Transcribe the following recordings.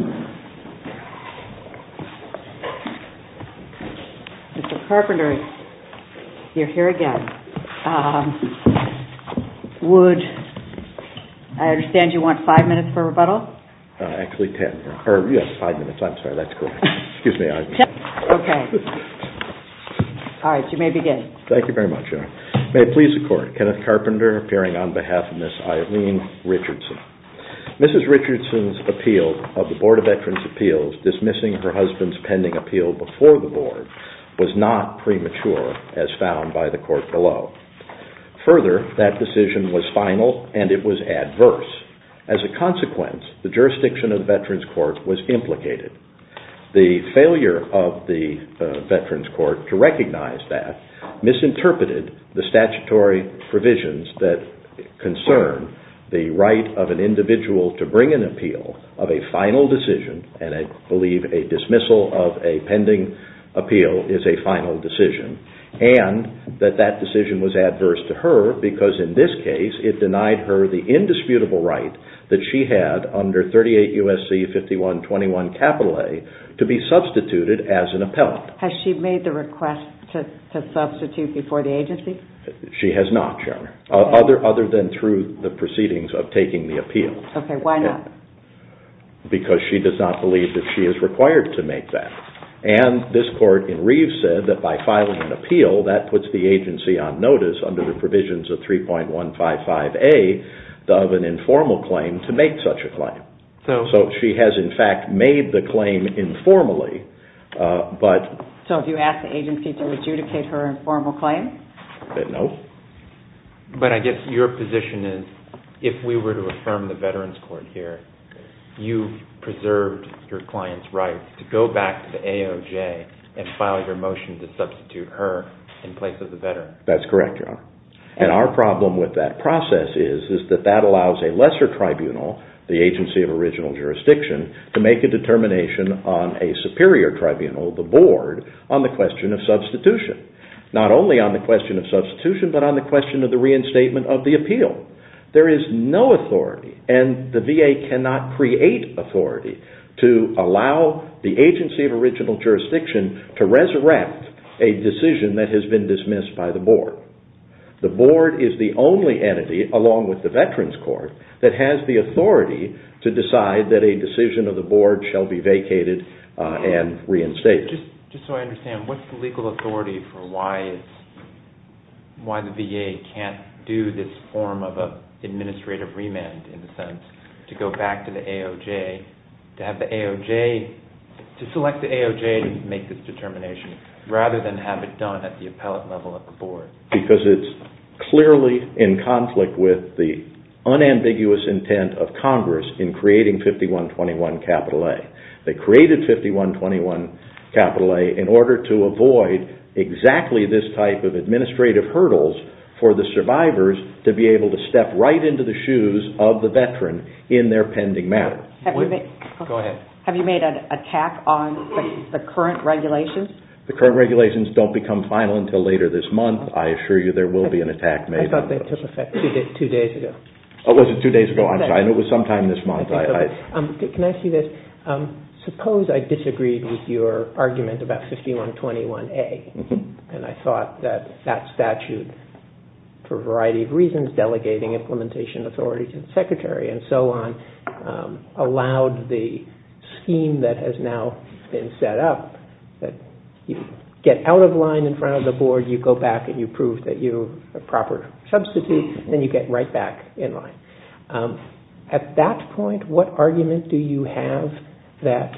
Mr. Carpenter, you are here again. I understand you want five minutes for rebuttal? Actually, ten. You have five minutes. I'm sorry, that's correct. All right, you may begin. Thank you very much. May it please the Court, Kenneth Carpenter appearing on behalf of Ms. Eileen Richardson. Mrs. Richardson's appeal of the Board of Veterans' Appeals dismissing her husband's pending appeal before the Board was not premature as found by the Court below. Further, that decision was final and it was adverse. As a consequence, the jurisdiction of the Veterans' Court was implicated. The failure of the Veterans' Court to recognize that misinterpreted the statutory provisions that concern the right of an individual to bring an appeal of a final decision. I believe a dismissal of a pending appeal is a final decision. And that that decision was adverse to her because in this case it denied her the indisputable right that she had under 38 U.S.C. 5121 A to be substituted as an appellant. Has she made the request to substitute before the agency? She has not, other than through the proceedings of taking the appeal. Why not? Because she does not believe that she is required to make that. And this Court in Reeves said that by filing an appeal that puts the agency on notice under the provisions of 3.155 A of an informal claim to make such a claim. So she has in fact made the claim informally. So have you asked the agency to adjudicate her informal claim? No. But I guess your position is if we were to affirm the Veterans' Court here, you preserved your client's right to go back to the AOJ and file your motion to substitute her in place of the veteran. That's correct, John. And our problem with that process is that that allows a lesser tribunal, the agency of original jurisdiction, to make a determination on a superior tribunal, the board, on the question of substitution. Not only on the question of substitution, but on the question of the reinstatement of the appeal. There is no authority, and the VA cannot create authority, to allow the agency of original jurisdiction to resurrect a decision that has been dismissed by the board. The board is the only entity, along with the Veterans' Court, that has the authority to decide that a decision of the board shall be vacated and reinstated. Just so I understand, what's the legal authority for why the VA can't do this form of administrative remand, in a sense, to go back to the AOJ, to select the AOJ and make this determination, rather than have it done at the appellate level of the board? Because it's clearly in conflict with the unambiguous intent of Congress in creating 5121 A. They created 5121 A in order to avoid exactly this type of administrative hurdles for the survivors to be able to step right into the shoes of the Veteran in their pending matter. Have you made an attack on the current regulations? The current regulations don't become final until later this month. I assure you there will be an attack made on those. I thought that took effect two days ago. Oh, was it two days ago? I'm sorry. I know it was sometime this month. Can I ask you this? Suppose I disagreed with your argument about 5121 A, and I thought that that statute, for a variety of reasons, delegating implementation authority to the secretary and so on, allowed the scheme that has now been set up, that you get out of line in front of the board, you go back and you prove that you're a proper substitute, then you get right back in line. At that point, what argument do you have that,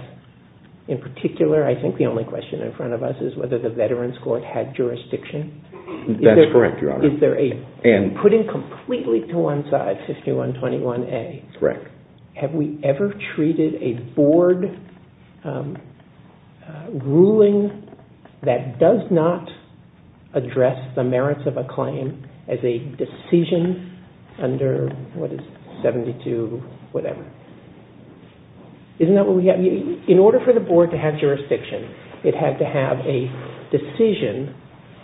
in particular, I think the only question in front of us is whether the Veterans Court had jurisdiction? That's correct, Your Honor. Putting completely to one side 5121 A, have we ever treated a board ruling that does not address the merits of a claim as a decision under 72 whatever? In order for the board to have jurisdiction, it had to have a decision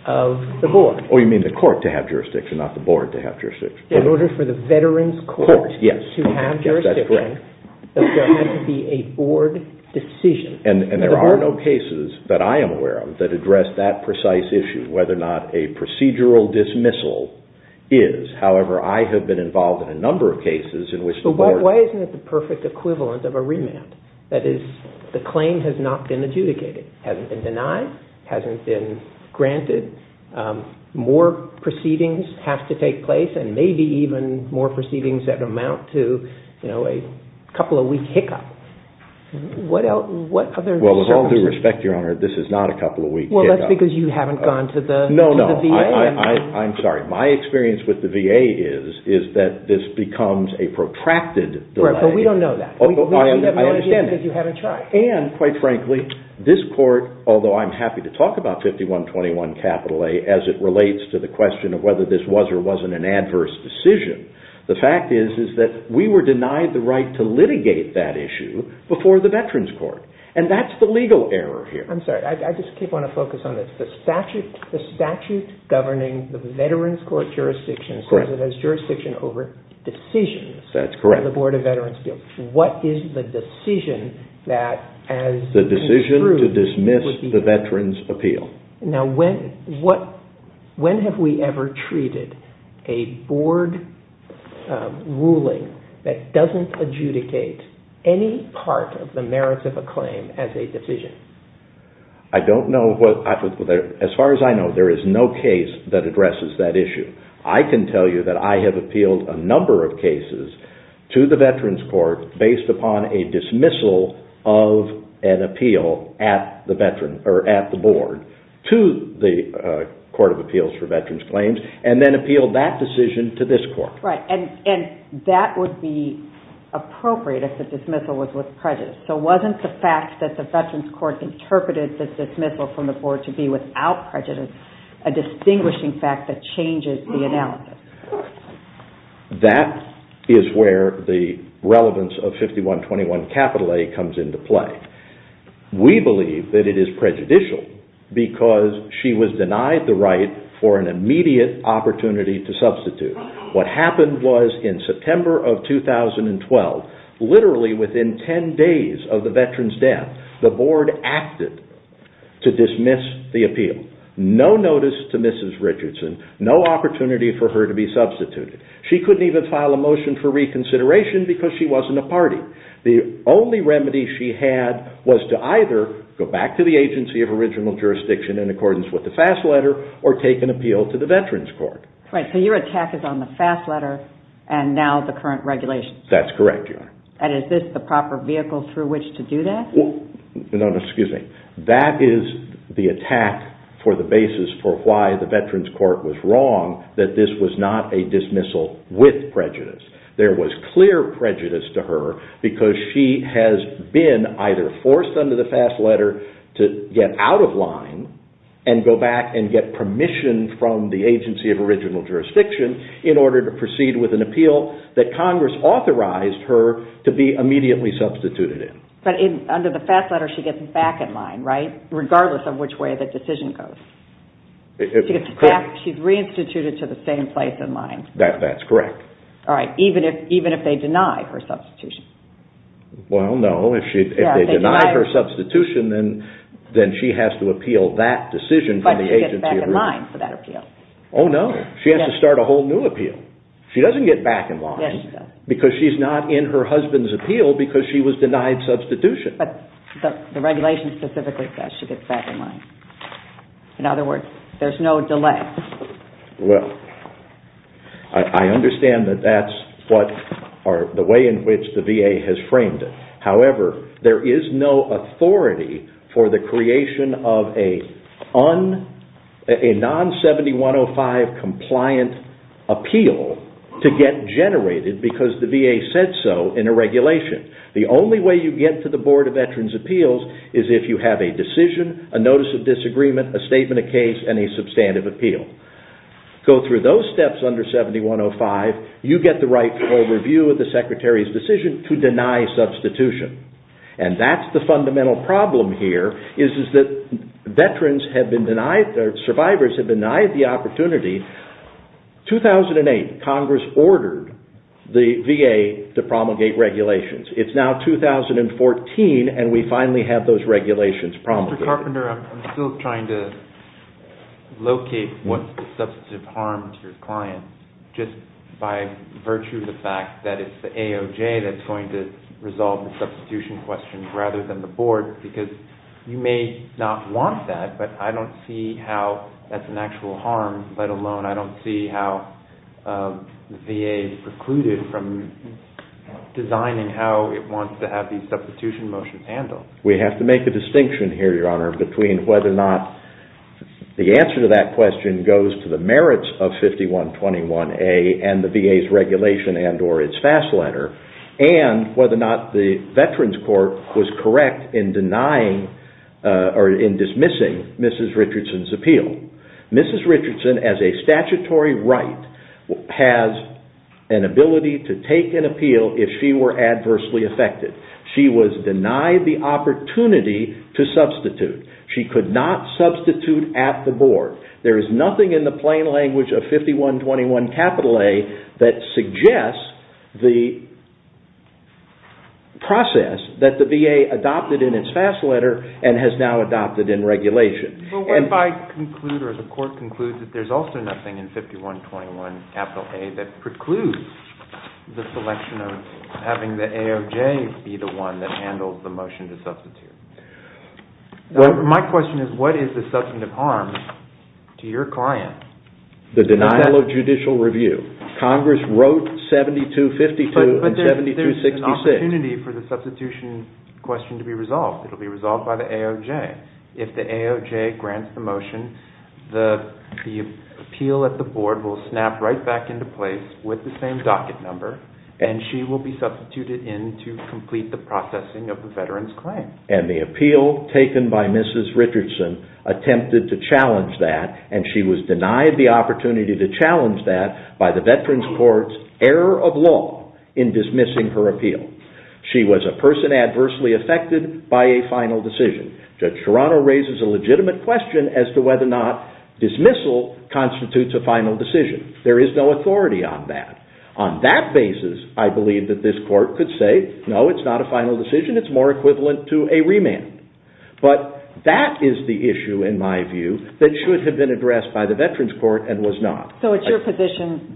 of the board. Oh, you mean the court to have jurisdiction, not the board to have jurisdiction. In order for the Veterans Court to have jurisdiction, there had to be a board decision. And there are no cases that I am aware of that address that precise issue, whether or not a procedural dismissal is. However, I have been involved in a number of cases in which the board… More proceedings have to take place and maybe even more proceedings that amount to a couple of weeks hiccup. What other circumstances… Well, with all due respect, Your Honor, this is not a couple of weeks hiccup. Well, that's because you haven't gone to the VA. No, no. I'm sorry. My experience with the VA is that this becomes a protracted… Right, but we don't know that. We have no idea that you haven't tried. And quite frankly, this court, although I'm happy to talk about 5121 capital A as it relates to the question of whether this was or wasn't an adverse decision, the fact is that we were denied the right to litigate that issue before the Veterans Court. And that's the legal error here. I'm sorry. I just want to focus on this. The statute governing the Veterans Court jurisdiction says it has jurisdiction over decisions. That's correct. What is the decision that as… The decision to dismiss the Veterans Appeal. Now, when have we ever treated a board ruling that doesn't adjudicate any part of the merits of a claim as a decision? I don't know. As far as I know, there is no case that addresses that issue. I can tell you that I have appealed a number of cases to the Veterans Court based upon a dismissal of an appeal at the board to the Court of Appeals for Veterans Claims and then appealed that decision to this court. Right. And that would be appropriate if the dismissal was with prejudice. So wasn't the fact that the Veterans Court interpreted the dismissal from the board to be without prejudice a distinguishing fact that changes the analysis? That is where the relevance of 5121A comes into play. We believe that it is prejudicial because she was denied the right for an immediate opportunity to substitute. What happened was in September of 2012, literally within 10 days of the veteran's death, the board acted to dismiss the appeal. No notice to Mrs. Richardson. No opportunity for her to be substituted. She couldn't even file a motion for reconsideration because she wasn't a party. The only remedy she had was to either go back to the agency of original jurisdiction in accordance with the FAST letter or take an appeal to the Veterans Court. Right. So your attack is on the FAST letter and now the current regulations. That's correct, Your Honor. And is this the proper vehicle through which to do that? That is the attack for the basis for why the Veterans Court was wrong that this was not a dismissal with prejudice. There was clear prejudice to her because she has been either forced under the FAST letter to get out of line and go back and get permission from the agency of original jurisdiction in order to proceed with an appeal that Congress authorized her to be immediately substituted in. But under the FAST letter, she gets back in line, right? Regardless of which way the decision goes. She's reinstituted to the same place in line. That's correct. All right. Even if they deny her substitution. Well, no. If they deny her substitution, then she has to appeal that decision from the agency of original jurisdiction. Oh, no. She has to start a whole new appeal. She doesn't get back in line because she's not in her husband's appeal because she was denied substitution. But the regulation specifically says she gets back in line. In other words, there's no delay. Well, I understand that that's the way in which the VA has framed it. However, there is no authority for the creation of a non-7105 compliant appeal to get generated because the VA said so in a regulation. The only way you get to the Board of Veterans' Appeals is if you have a decision, a notice of disagreement, a statement of case, and a substantive appeal. Go through those steps under 7105. You get the rightful review of the Secretary's decision to deny substitution. And that's the fundamental problem here is that survivors have denied the opportunity. In 2008, Congress ordered the VA to promulgate regulations. It's now 2014 and we finally have those regulations promulgated. Mr. Carpenter, I'm still trying to locate what's the substantive harm to your client just by virtue of the fact that it's the AOJ that's going to resolve the substitution question rather than the board. Because you may not want that, but I don't see how that's an actual harm, let alone I don't see how the VA precluded from designing how it wants to have these substitution motions handled. We have to make a distinction here, Your Honor, between whether or not the answer to that question goes to the merits of 5121A and the VA's regulation and or its FAS letter, and whether or not the Veterans Court was correct in denying or in dismissing Mrs. Richardson's appeal. Mrs. Richardson, as a statutory right, has an ability to take an appeal if she were adversely affected. She was denied the opportunity to substitute. She could not substitute at the board. There is nothing in the plain language of 5121A that suggests the process that the VA adopted in its FAS letter and has now adopted in regulation. But what if I conclude or the court concludes that there's also nothing in 5121A that precludes the selection of having the AOJ be the one that handles the motion to substitute? My question is, what is the substantive harm to your client? The denial of judicial review. Congress wrote 7252 and 7266. There's an opportunity for the substitution question to be resolved. It will be resolved by the AOJ. If the AOJ grants the motion, the appeal at the board will snap right back into place with the same docket number, and she will be substituted in to complete the processing of the veteran's claim. And the appeal taken by Mrs. Richardson attempted to challenge that, and she was denied the opportunity to challenge that by the Veterans Court's error of law in dismissing her appeal. She was a person adversely affected by a final decision. Judge Serrano raises a legitimate question as to whether or not dismissal constitutes a final decision. There is no authority on that. On that basis, I believe that this court could say, no, it's not a final decision. It's more equivalent to a remand. But that is the issue, in my view, that should have been addressed by the Veterans Court and was not. So it's your position,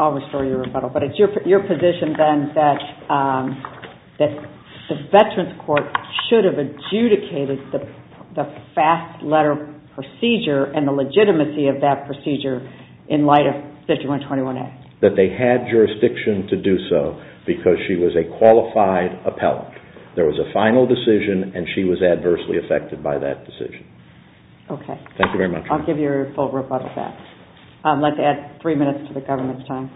I'll restore your rebuttal, but it's your position then that the Veterans Court should have adjudicated the fast letter procedure and the legitimacy of that procedure in light of 5121A? That they had jurisdiction to do so because she was a qualified appellant. There was a final decision, and she was adversely affected by that decision. Thank you very much. I'll give your full rebuttal back. I'd like to add three minutes to the government's time.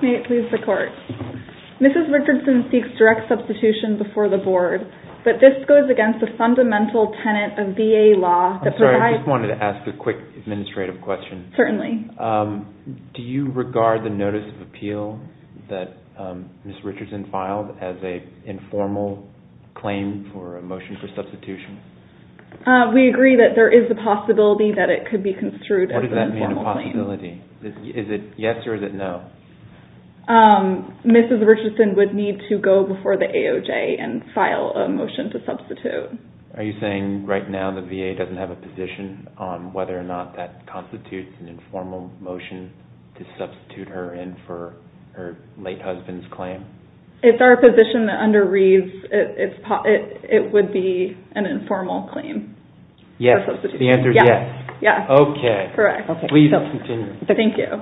May it please the Court. Mrs. Richardson seeks direct substitution before the Board, but this goes against the fundamental tenet of VA law. I'm sorry, I just wanted to ask a quick administrative question. Certainly. Do you regard the Notice of Appeal that Mrs. Richardson filed as an informal claim for a motion for substitution? We agree that there is a possibility that it could be construed as an informal claim. What does that mean, a possibility? Is it yes or is it no? Mrs. Richardson would need to go before the AOJ and file a motion to substitute. Are you saying right now the VA doesn't have a position on whether or not that constitutes an informal motion to substitute her in for her late husband's claim? It's our position that under Reeves, it would be an informal claim. Yes. The answer is yes. Yes. Okay. Correct. Please continue. Thank you.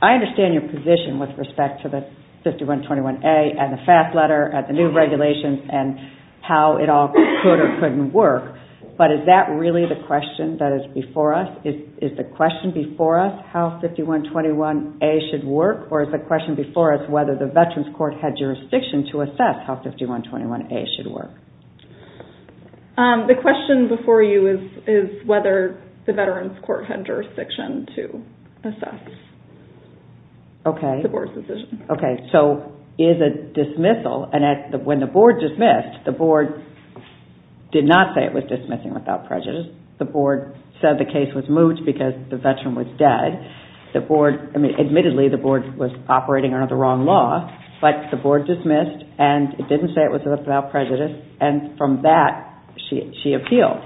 I understand your position with respect to the 5121A and the FAFSA letter and the new regulations and how it all could or couldn't work. But is that really the question that is before us? Is the question before us how 5121A should work or is the question before us whether the Veterans Court had jurisdiction to assess how 5121A should work? The question before you is whether the Veterans Court had jurisdiction to assess the Board's decision. Okay. So is it dismissal? When the Board dismissed, the Board did not say it was dismissing without prejudice. The Board said the case was moved because the Veteran was dead. Admittedly, the Board was operating under the wrong law. But the Board dismissed and it didn't say it was without prejudice. And from that, she appealed.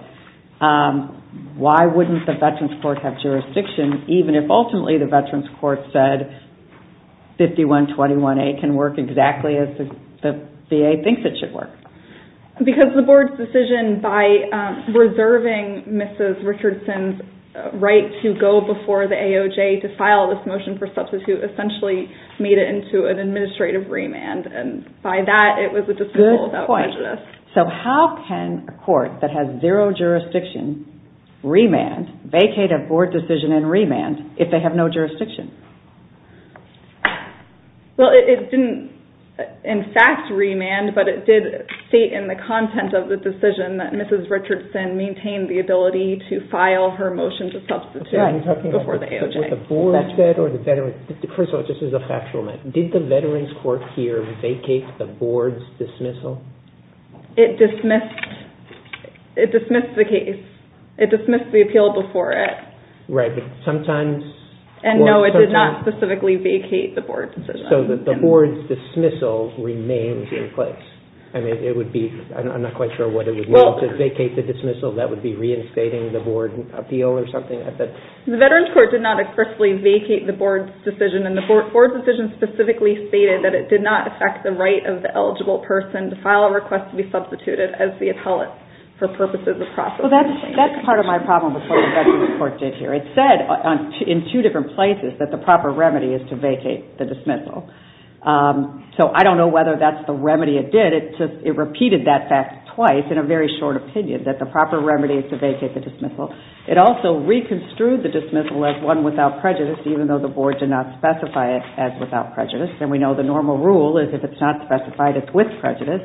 Why wouldn't the Veterans Court have jurisdiction even if ultimately the Veterans Court said 5121A can work exactly as the VA thinks it should work? Because the Board's decision by reserving Mrs. Richardson's right to go before the AOJ to file this motion for substitute essentially made it into an administrative remand. And by that, it was a dismissal without prejudice. So how can a court that has zero jurisdiction remand, vacate a Board decision and remand if they have no jurisdiction? Well, it didn't in fact remand, but it did state in the content of the decision that Mrs. Richardson maintained the ability to file her motion to substitute before the AOJ. First of all, this is a factual matter. Did the Veterans Court here vacate the Board's dismissal? It dismissed the case. It dismissed the appeal before it. And no, it did not specifically vacate the Board's decision. So the Board's dismissal remains in place. I'm not quite sure what it would mean to vacate the dismissal. That would be reinstating the Board appeal or something? The Veterans Court did not explicitly vacate the Board's decision. And the Board's decision specifically stated that it did not affect the right of the eligible person to file a request to be substituted as the appellate for purposes of processing. So that's part of my problem with what the Veterans Court did here. It said in two different places that the proper remedy is to vacate the dismissal. So I don't know whether that's the remedy it did. It repeated that fact twice in a very short opinion that the proper remedy is to vacate the dismissal. It also reconstrued the dismissal as one without prejudice, even though the Board did not specify it as without prejudice. And we know the normal rule is if it's not specified, it's with prejudice.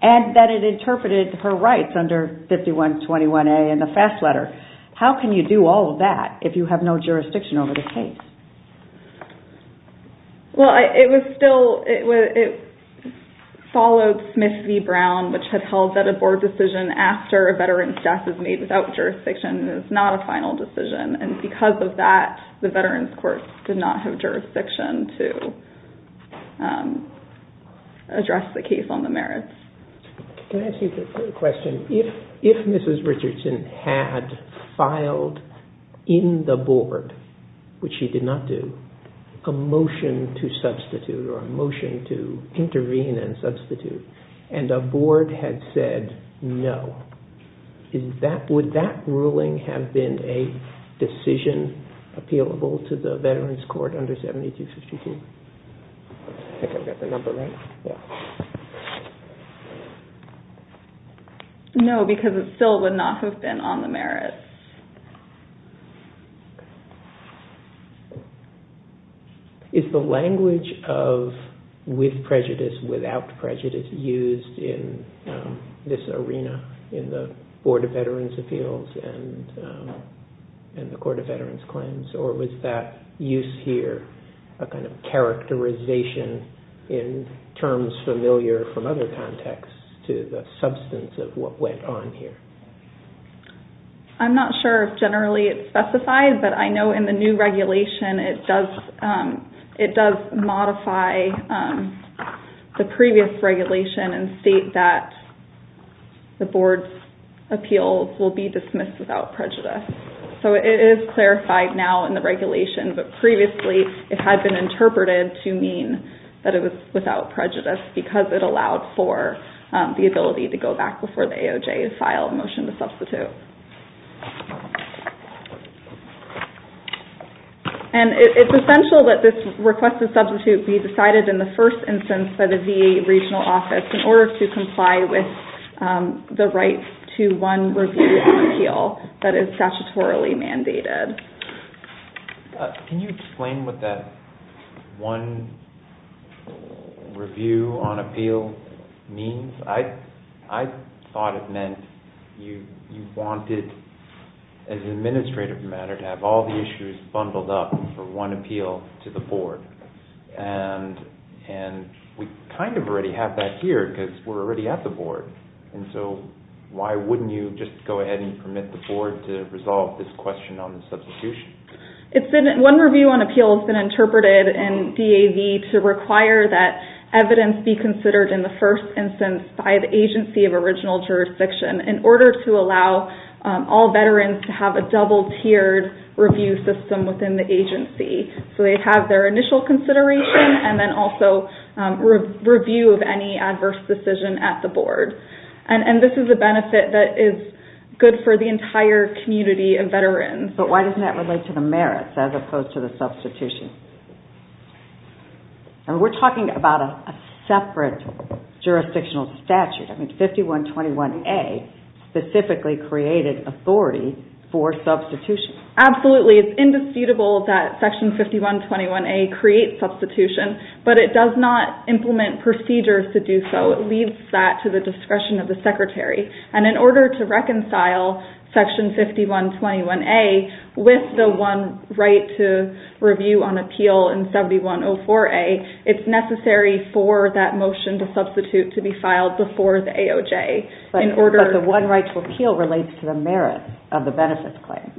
And that it interpreted her rights under 5121A in the FAST letter. How can you do all of that if you have no jurisdiction over the case? Well, it followed Smith v. Brown, which had held that a Board decision after a veteran's death is made without jurisdiction. It's not a final decision. And because of that, the Veterans Court did not have jurisdiction to address the case on the merits. Can I ask you a quick question? If Mrs. Richardson had filed in the Board, which she did not do, a motion to substitute or a motion to intervene and substitute, and a Board had said no, would that ruling have been a decision appealable to the Veterans Court under 7252? I think I've got the number right. No, because it still would not have been on the merits. Is the language of with prejudice, without prejudice, used in this arena in the Board of Veterans Appeals and the Court of Veterans Claims? Or was that use here a kind of characterization in terms familiar from other contexts to the substance of what went on here? I'm not sure if generally it's specified, but I know in the new regulation it does modify the previous regulation and state that the Board's appeals will be dismissed without prejudice. So it is clarified now in the regulation, but previously it had been interpreted to mean that it was without prejudice because it allowed for the ability to go back before the AOJ filed a motion to substitute. And it's essential that this request to substitute be decided in the first instance by the VA regional office in order to comply with the right to one review on appeal that is statutorily mandated. Can you explain what that one review on appeal means? I thought it meant you wanted, as an administrative matter, to have all the issues bundled up for one appeal to the Board. And we kind of already have that here because we're already at the Board. So why wouldn't you just go ahead and permit the Board to resolve this question on the substitution? One review on appeal has been interpreted in DAV to require that evidence be considered in the first instance by the agency of original jurisdiction in order to allow all veterans to have a double-tiered review system within the agency. So they have their initial consideration and then also review of any adverse decision at the Board. And this is a benefit that is good for the entire community of veterans. But why doesn't that relate to the merits as opposed to the substitution? We're talking about a separate jurisdictional statute. 5121A specifically created authority for substitution. Absolutely. It's indisputable that Section 5121A creates substitution, but it does not implement procedures to do so. It leaves that to the discretion of the Secretary. And in order to reconcile Section 5121A with the one right to review on appeal in 7104A, it's necessary for that motion to substitute to be filed before the AOJ. But the one right to appeal relates to the merits of the benefits claim.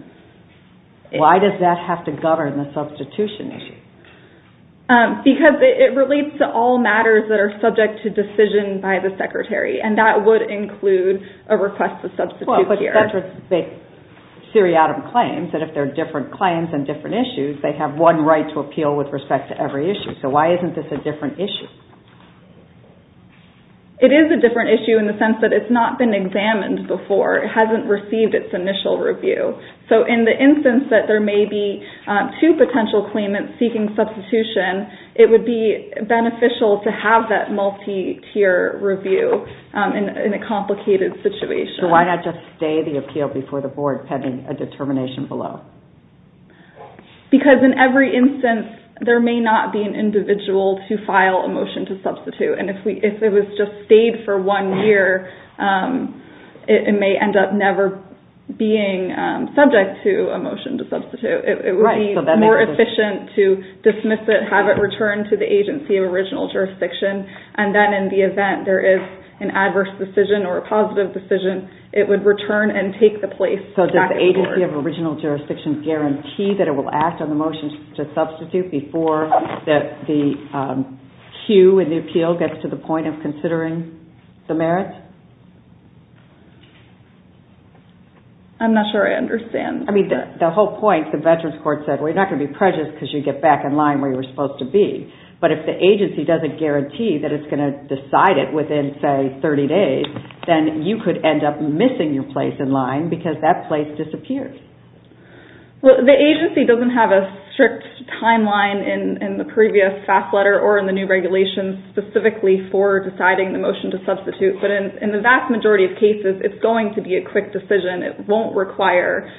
Why does that have to govern the substitution issue? Because it relates to all matters that are subject to decision by the Secretary. And that would include a request to substitute here. Well, but that's what the seriatim claims, that if there are different claims and different issues, they have one right to appeal with respect to every issue. So why isn't this a different issue? It is a different issue in the sense that it's not been examined before. It hasn't received its initial review. So in the instance that there may be two potential claimants seeking substitution, it would be beneficial to have that multi-tier review in a complicated situation. So why not just stay the appeal before the board pending a determination below? Because in every instance, there may not be an individual to file a motion to substitute. And if it was just stayed for one year, it may end up never being subject to a motion to substitute. It would be more efficient to dismiss it, have it returned to the agency of original jurisdiction, and then in the event there is an adverse decision or a positive decision, it would return and take the place back to the board. So does the agency of original jurisdiction guarantee that it will act on the motion to substitute before the queue in the appeal gets to the point of considering the merits? I'm not sure I understand. I mean, the whole point, the Veterans Court said, well, you're not going to be prejudiced because you get back in line where you were supposed to be. But if the agency doesn't guarantee that it's going to decide it within, say, 30 days, then you could end up missing your place in line because that place disappears. Well, the agency doesn't have a strict timeline in the previous fact letter or in the new regulations specifically for deciding the motion to substitute. But in the vast majority of cases, it's going to be a quick decision. It won't require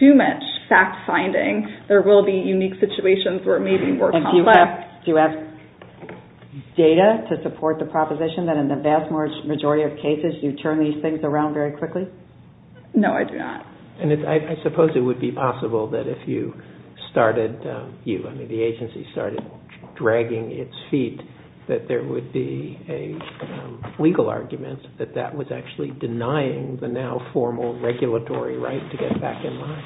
too much fact-finding. There will be unique situations where it may be more complex. Do you have data to support the proposition that in the vast majority of cases, you turn these things around very quickly? No, I do not. And I suppose it would be possible that if you started, you, I mean, the agency started dragging its feet, that there would be a legal argument that that was actually denying the now formal regulatory right to get back in line.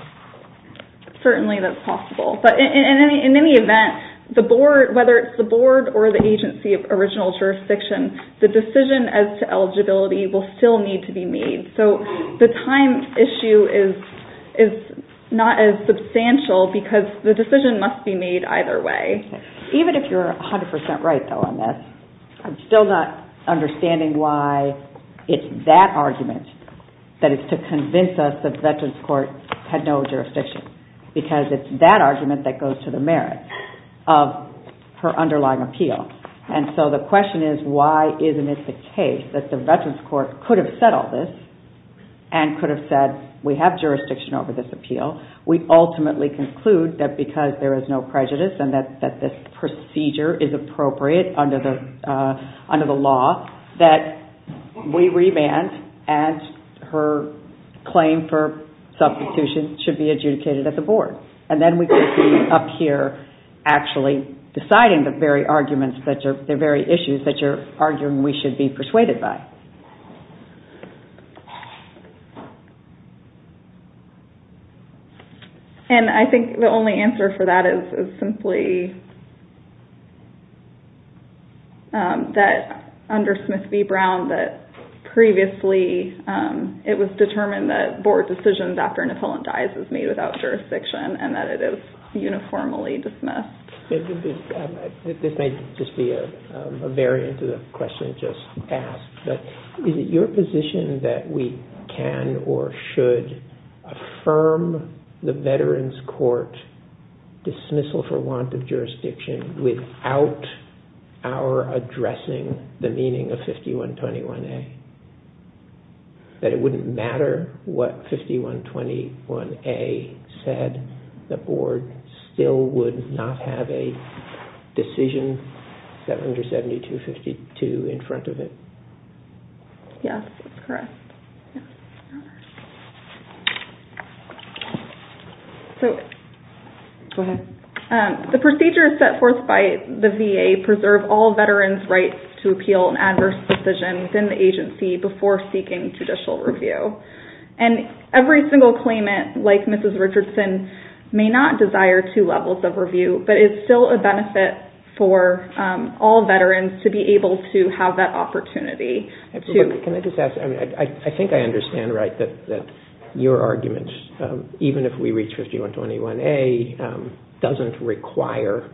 Certainly that's possible. But in any event, whether it's the board or the agency of original jurisdiction, the decision as to eligibility will still need to be made. So the time issue is not as substantial because the decision must be made either way. Even if you're 100% right, though, on this, I'm still not understanding why it's that argument that is to convince us that the Veterans Court had no jurisdiction because it's that argument that goes to the merit of her underlying appeal. And so the question is, why isn't it the case that the Veterans Court could have said all this and could have said we have jurisdiction over this appeal? We ultimately conclude that because there is no prejudice and that this procedure is appropriate under the law, that we remand and her claim for substitution should be adjudicated at the board. And then we could be up here actually deciding the very arguments, the very issues that you're arguing we should be persuaded by. And I think the only answer for that is simply that under Smith v. Brown, that previously it was determined that board decisions after an appellant dies is made without jurisdiction and that it is uniformly dismissed. This may just be a variant of the question just asked, but is it your position that we can or should affirm the Veterans Court dismissal for want of jurisdiction without our addressing the meaning of 5121A? That it wouldn't matter what 5121A said? The board still would not have a decision under 7252 in front of it? Go ahead. The procedures set forth by the VA preserve all veterans' rights to appeal an adverse decision within the agency before seeking judicial review. And every single claimant, like Mrs. Richardson, may not desire two levels of review, but it's still a benefit for all veterans to be able to have that opportunity. I think I understand right that your argument, even if we reach 5121A, doesn't require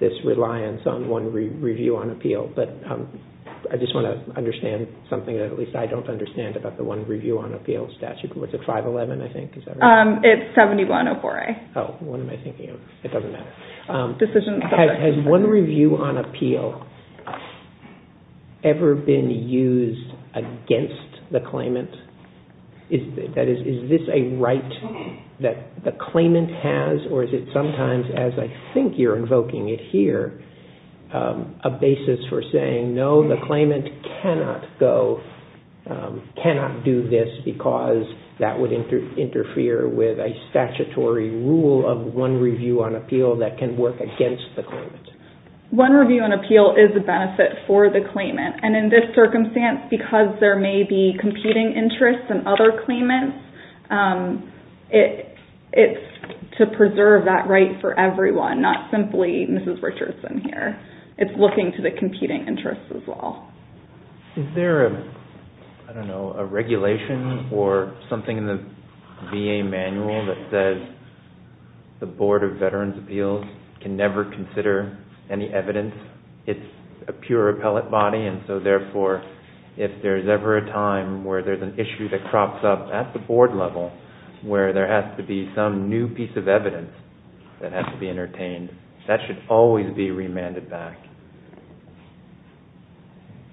this reliance on one review on appeal, but I just want to understand something that at least I don't understand about the one review on appeal statute. What's it, 511, I think? It's 7104A. Oh, what am I thinking of? It doesn't matter. Has one review on appeal ever been used against the claimant? Is this a right that the claimant has, or is it sometimes, as I think you're invoking it here, a basis for saying, no, the claimant cannot go, cannot do this, because that would interfere with a statutory rule of one review on appeal that can work against the claimant. One review on appeal is a benefit for the claimant, and in this circumstance, because there may be competing interests in other claimants, it's to preserve that right for everyone, not simply Mrs. Richardson here. It's looking to the competing interests as well. Is there, I don't know, a regulation or something in the VA manual that says the Board of Veterans' Appeals can never consider any evidence? It's a pure appellate body, and so therefore, if there's ever a time where there's an issue that crops up at the board level, where there has to be some new piece of evidence that has to be entertained, that should always be remanded back.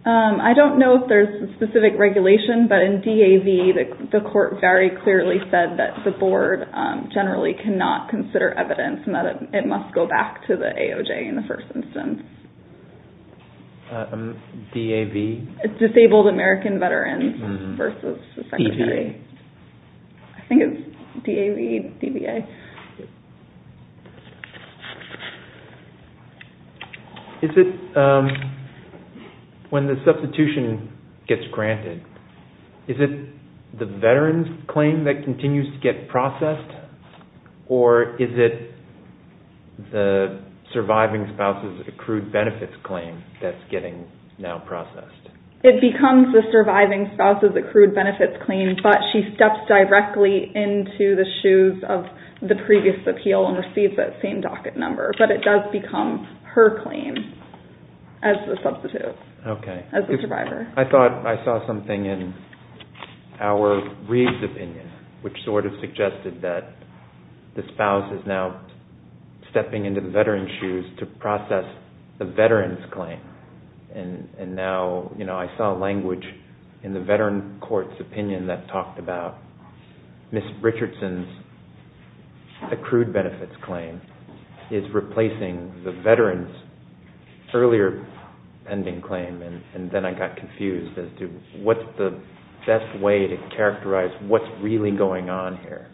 I don't know if there's a specific regulation, but in DAV, the court very clearly said that the board generally cannot consider evidence and that it must go back to the AOJ in the first instance. DAV? Disabled American Veterans versus the Secretary. DVA. I think it's DAV, DVA. Is it when the substitution gets granted, is it the veteran's claim that continues to get processed, or is it the surviving spouse's accrued benefits claim that's getting now processed? It becomes the surviving spouse's accrued benefits claim, but she steps directly into the shoes of the previous appeal and receives that same docket number, but it does become her claim as the substitute, as the survivor. I thought I saw something in our Reid's opinion, which sort of suggested that the spouse is now stepping into the veteran's shoes to process the veteran's claim. And now I saw language in the veteran court's opinion that talked about Ms. Richardson's accrued benefits claim is replacing the veteran's earlier pending claim, and then I got confused as to what's the best way to characterize what's really going on here.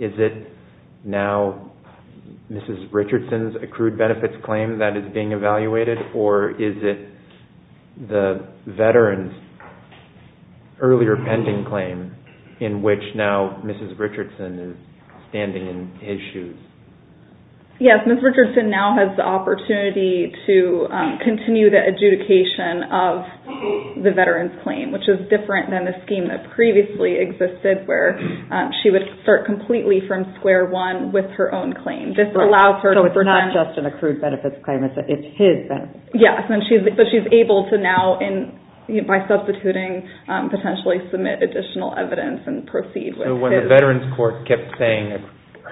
Is it now Ms. Richardson's accrued benefits claim that is being evaluated, or is it the veteran's earlier pending claim in which now Ms. Richardson is standing in his shoes? Yes, Ms. Richardson now has the opportunity to continue the adjudication of the veteran's claim, which is different than the scheme that previously existed where she would start completely from square one with her own claim. So it's not just an accrued benefits claim, it's his benefits claim. Yes, and she's able to now, by substituting, potentially submit additional evidence and proceed with his. So when the veteran's court kept saying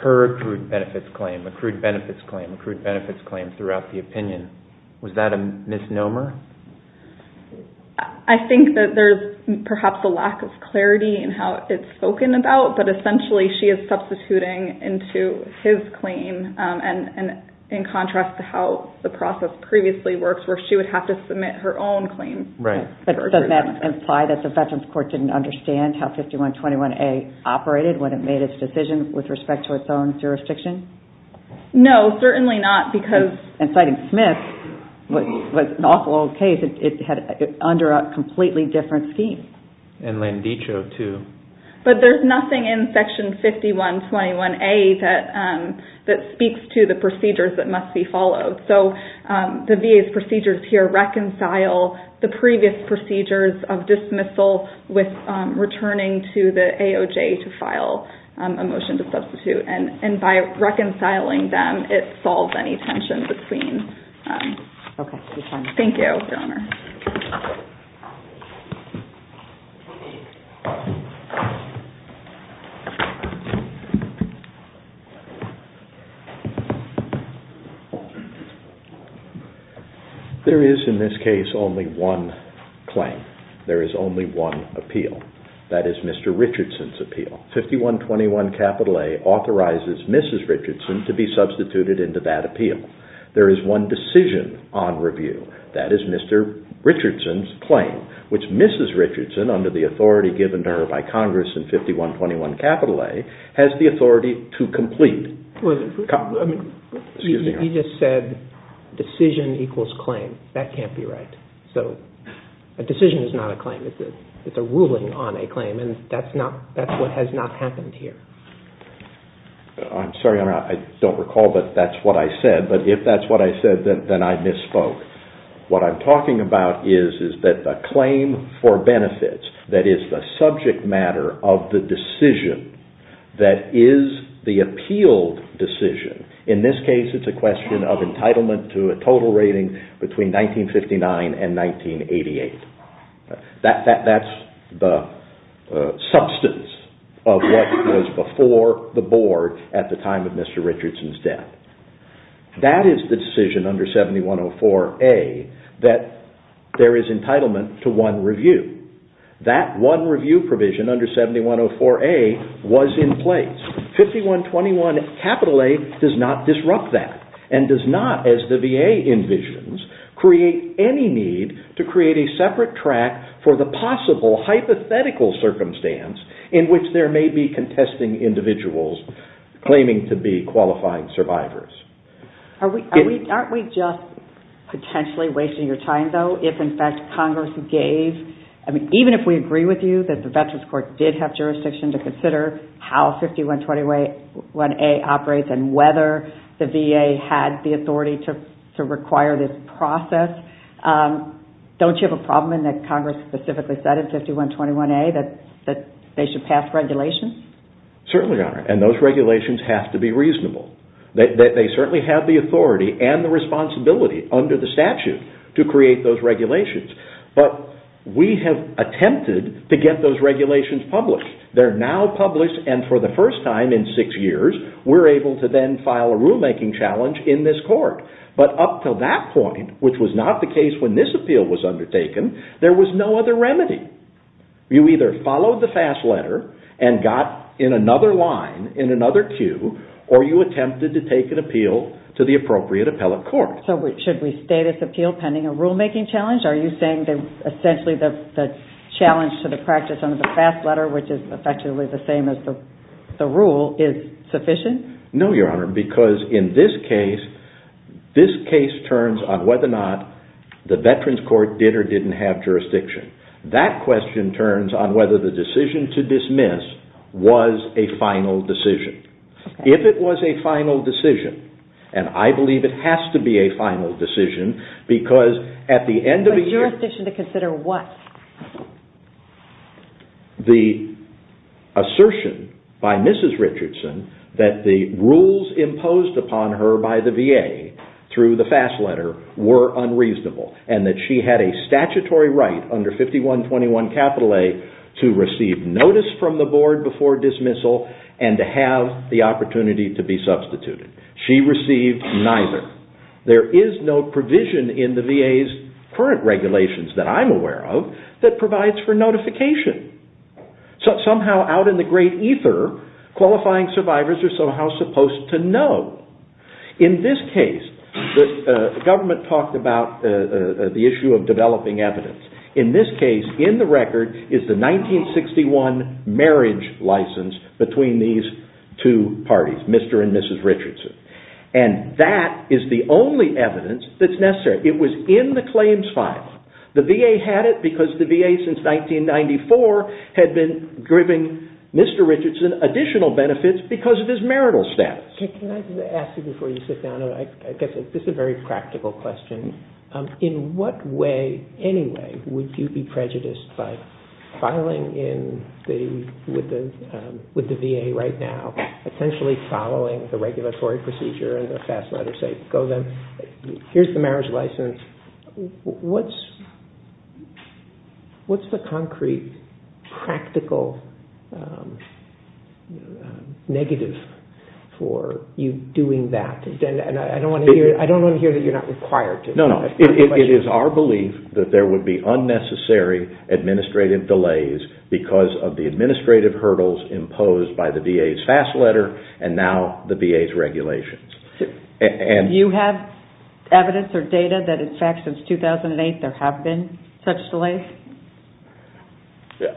her accrued benefits claim, accrued benefits claim, accrued benefits claim throughout the opinion, was that a misnomer? I think that there's perhaps a lack of clarity in how it's spoken about, but essentially she is substituting into his claim, and in contrast to how the process previously works where she would have to submit her own claim. Right, but doesn't that imply that the veteran's court didn't understand how 5121A operated when it made its decision with respect to its own jurisdiction? No, certainly not, because... And citing Smith, which was an awful old case, it's under a completely different scheme. And Landiccio, too. But there's nothing in section 5121A that speaks to the procedures that must be followed. So the VA's procedures here reconcile the previous procedures of dismissal with returning to the AOJ to file a motion to substitute. And by reconciling them, it solves any tension between... Okay, we're done. Thank you, Your Honor. There is, in this case, only one claim. There is only one appeal. That is Mr. Richardson's appeal. 5121A authorizes Mrs. Richardson to be substituted into that appeal. There is one decision on review. That is Mr. Richardson's claim, which Mrs. Richardson, under the authority given to her by Congress in 5121A, has the authority to complete. You just said decision equals claim. That can't be right. So a decision is not a claim. It's a ruling on a claim, and that's what has not happened here. I'm sorry, Your Honor, I don't recall that that's what I said. But if that's what I said, then I misspoke. What I'm talking about is that the claim for benefits, that is the subject matter of the decision, that is the appealed decision. In this case, it's a question of entitlement to a total rating between 1959 and 1988. That's the substance of what was before the board at the time of Mr. Richardson's death. That is the decision under 7104A that there is entitlement to one review. That one review provision under 7104A was in place. 5121A does not disrupt that and does not, as the VA envisions, create any need to create a separate track for the possible hypothetical circumstance in which there may be contesting individuals claiming to be qualifying survivors. Aren't we just potentially wasting your time, though, if in fact Congress gave, even if we agree with you that the Veterans Court did have jurisdiction to consider how 5121A operates and whether the VA had the authority to require this process, don't you have a problem in that Congress specifically said in 5121A that they should pass regulations? Certainly, Your Honor, and those regulations have to be reasonable. They certainly have the authority and the responsibility under the statute to create those regulations. But we have attempted to get those regulations published. They're now published and for the first time in six years, we're able to then file a rulemaking challenge in this court. But up to that point, which was not the case when this appeal was undertaken, there was no other remedy. You either followed the FAS letter and got in another line, in another queue, or you attempted to take an appeal to the appropriate appellate court. So should we state its appeal pending a rulemaking challenge? Are you saying that essentially the challenge to the practice under the FAS letter, which is effectively the same as the rule, is sufficient? No, Your Honor, because in this case, this case turns on whether or not the Veterans Court did or didn't have jurisdiction. That question turns on whether the decision to dismiss was a final decision. If it was a final decision, and I believe it has to be a final decision, because at the end of the year... But jurisdiction to consider what? The assertion by Mrs. Richardson that the rules imposed upon her by the VA through the FAS letter were unreasonable and that she had a statutory right under 5121 capital A to receive notice from the board before dismissal and to have the opportunity to be substituted. She received neither. There is no provision in the VA's current regulations that I'm aware of that provides for notification. Somehow out in the great ether, qualifying survivors are somehow supposed to know. In this case, the government talked about the issue of developing evidence. In this case, in the record, is the 1961 marriage license between these two parties, Mr. and Mrs. Richardson. And that is the only evidence that's necessary. It was in the claims file. The VA had it because the VA since 1994 had been giving Mr. Richardson additional benefits because of his marital status. Can I ask you before you sit down? I guess this is a very practical question. In what way, anyway, would you be prejudiced by filing with the VA right now, essentially following the regulatory procedure and the FAS letter saying, I don't want to hear that you're not required to. No, no. It is our belief that there would be unnecessary administrative delays because of the administrative hurdles imposed by the VA's FAS letter and now the VA's regulations. Do you have evidence or data that in fact since 2008 there have been such delays?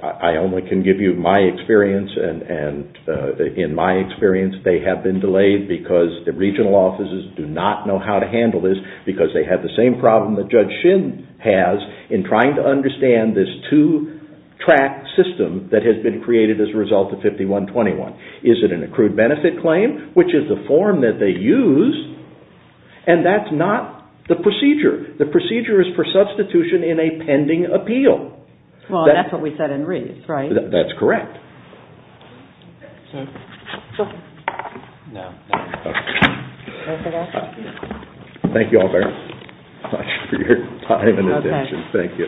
I only can give you my experience, and in my experience they have been delayed because the regional offices do not know how to handle this because they have the same problem that Judge Shin has in trying to understand this two-track system that has been created as a result of 5121. Is it an accrued benefit claim, which is the form that they use, and that's not the procedure. The procedure is for substitution in a pending appeal. That's what we said in Reeves, right? That's correct. Thank you all very much for your time and attention. Thank you.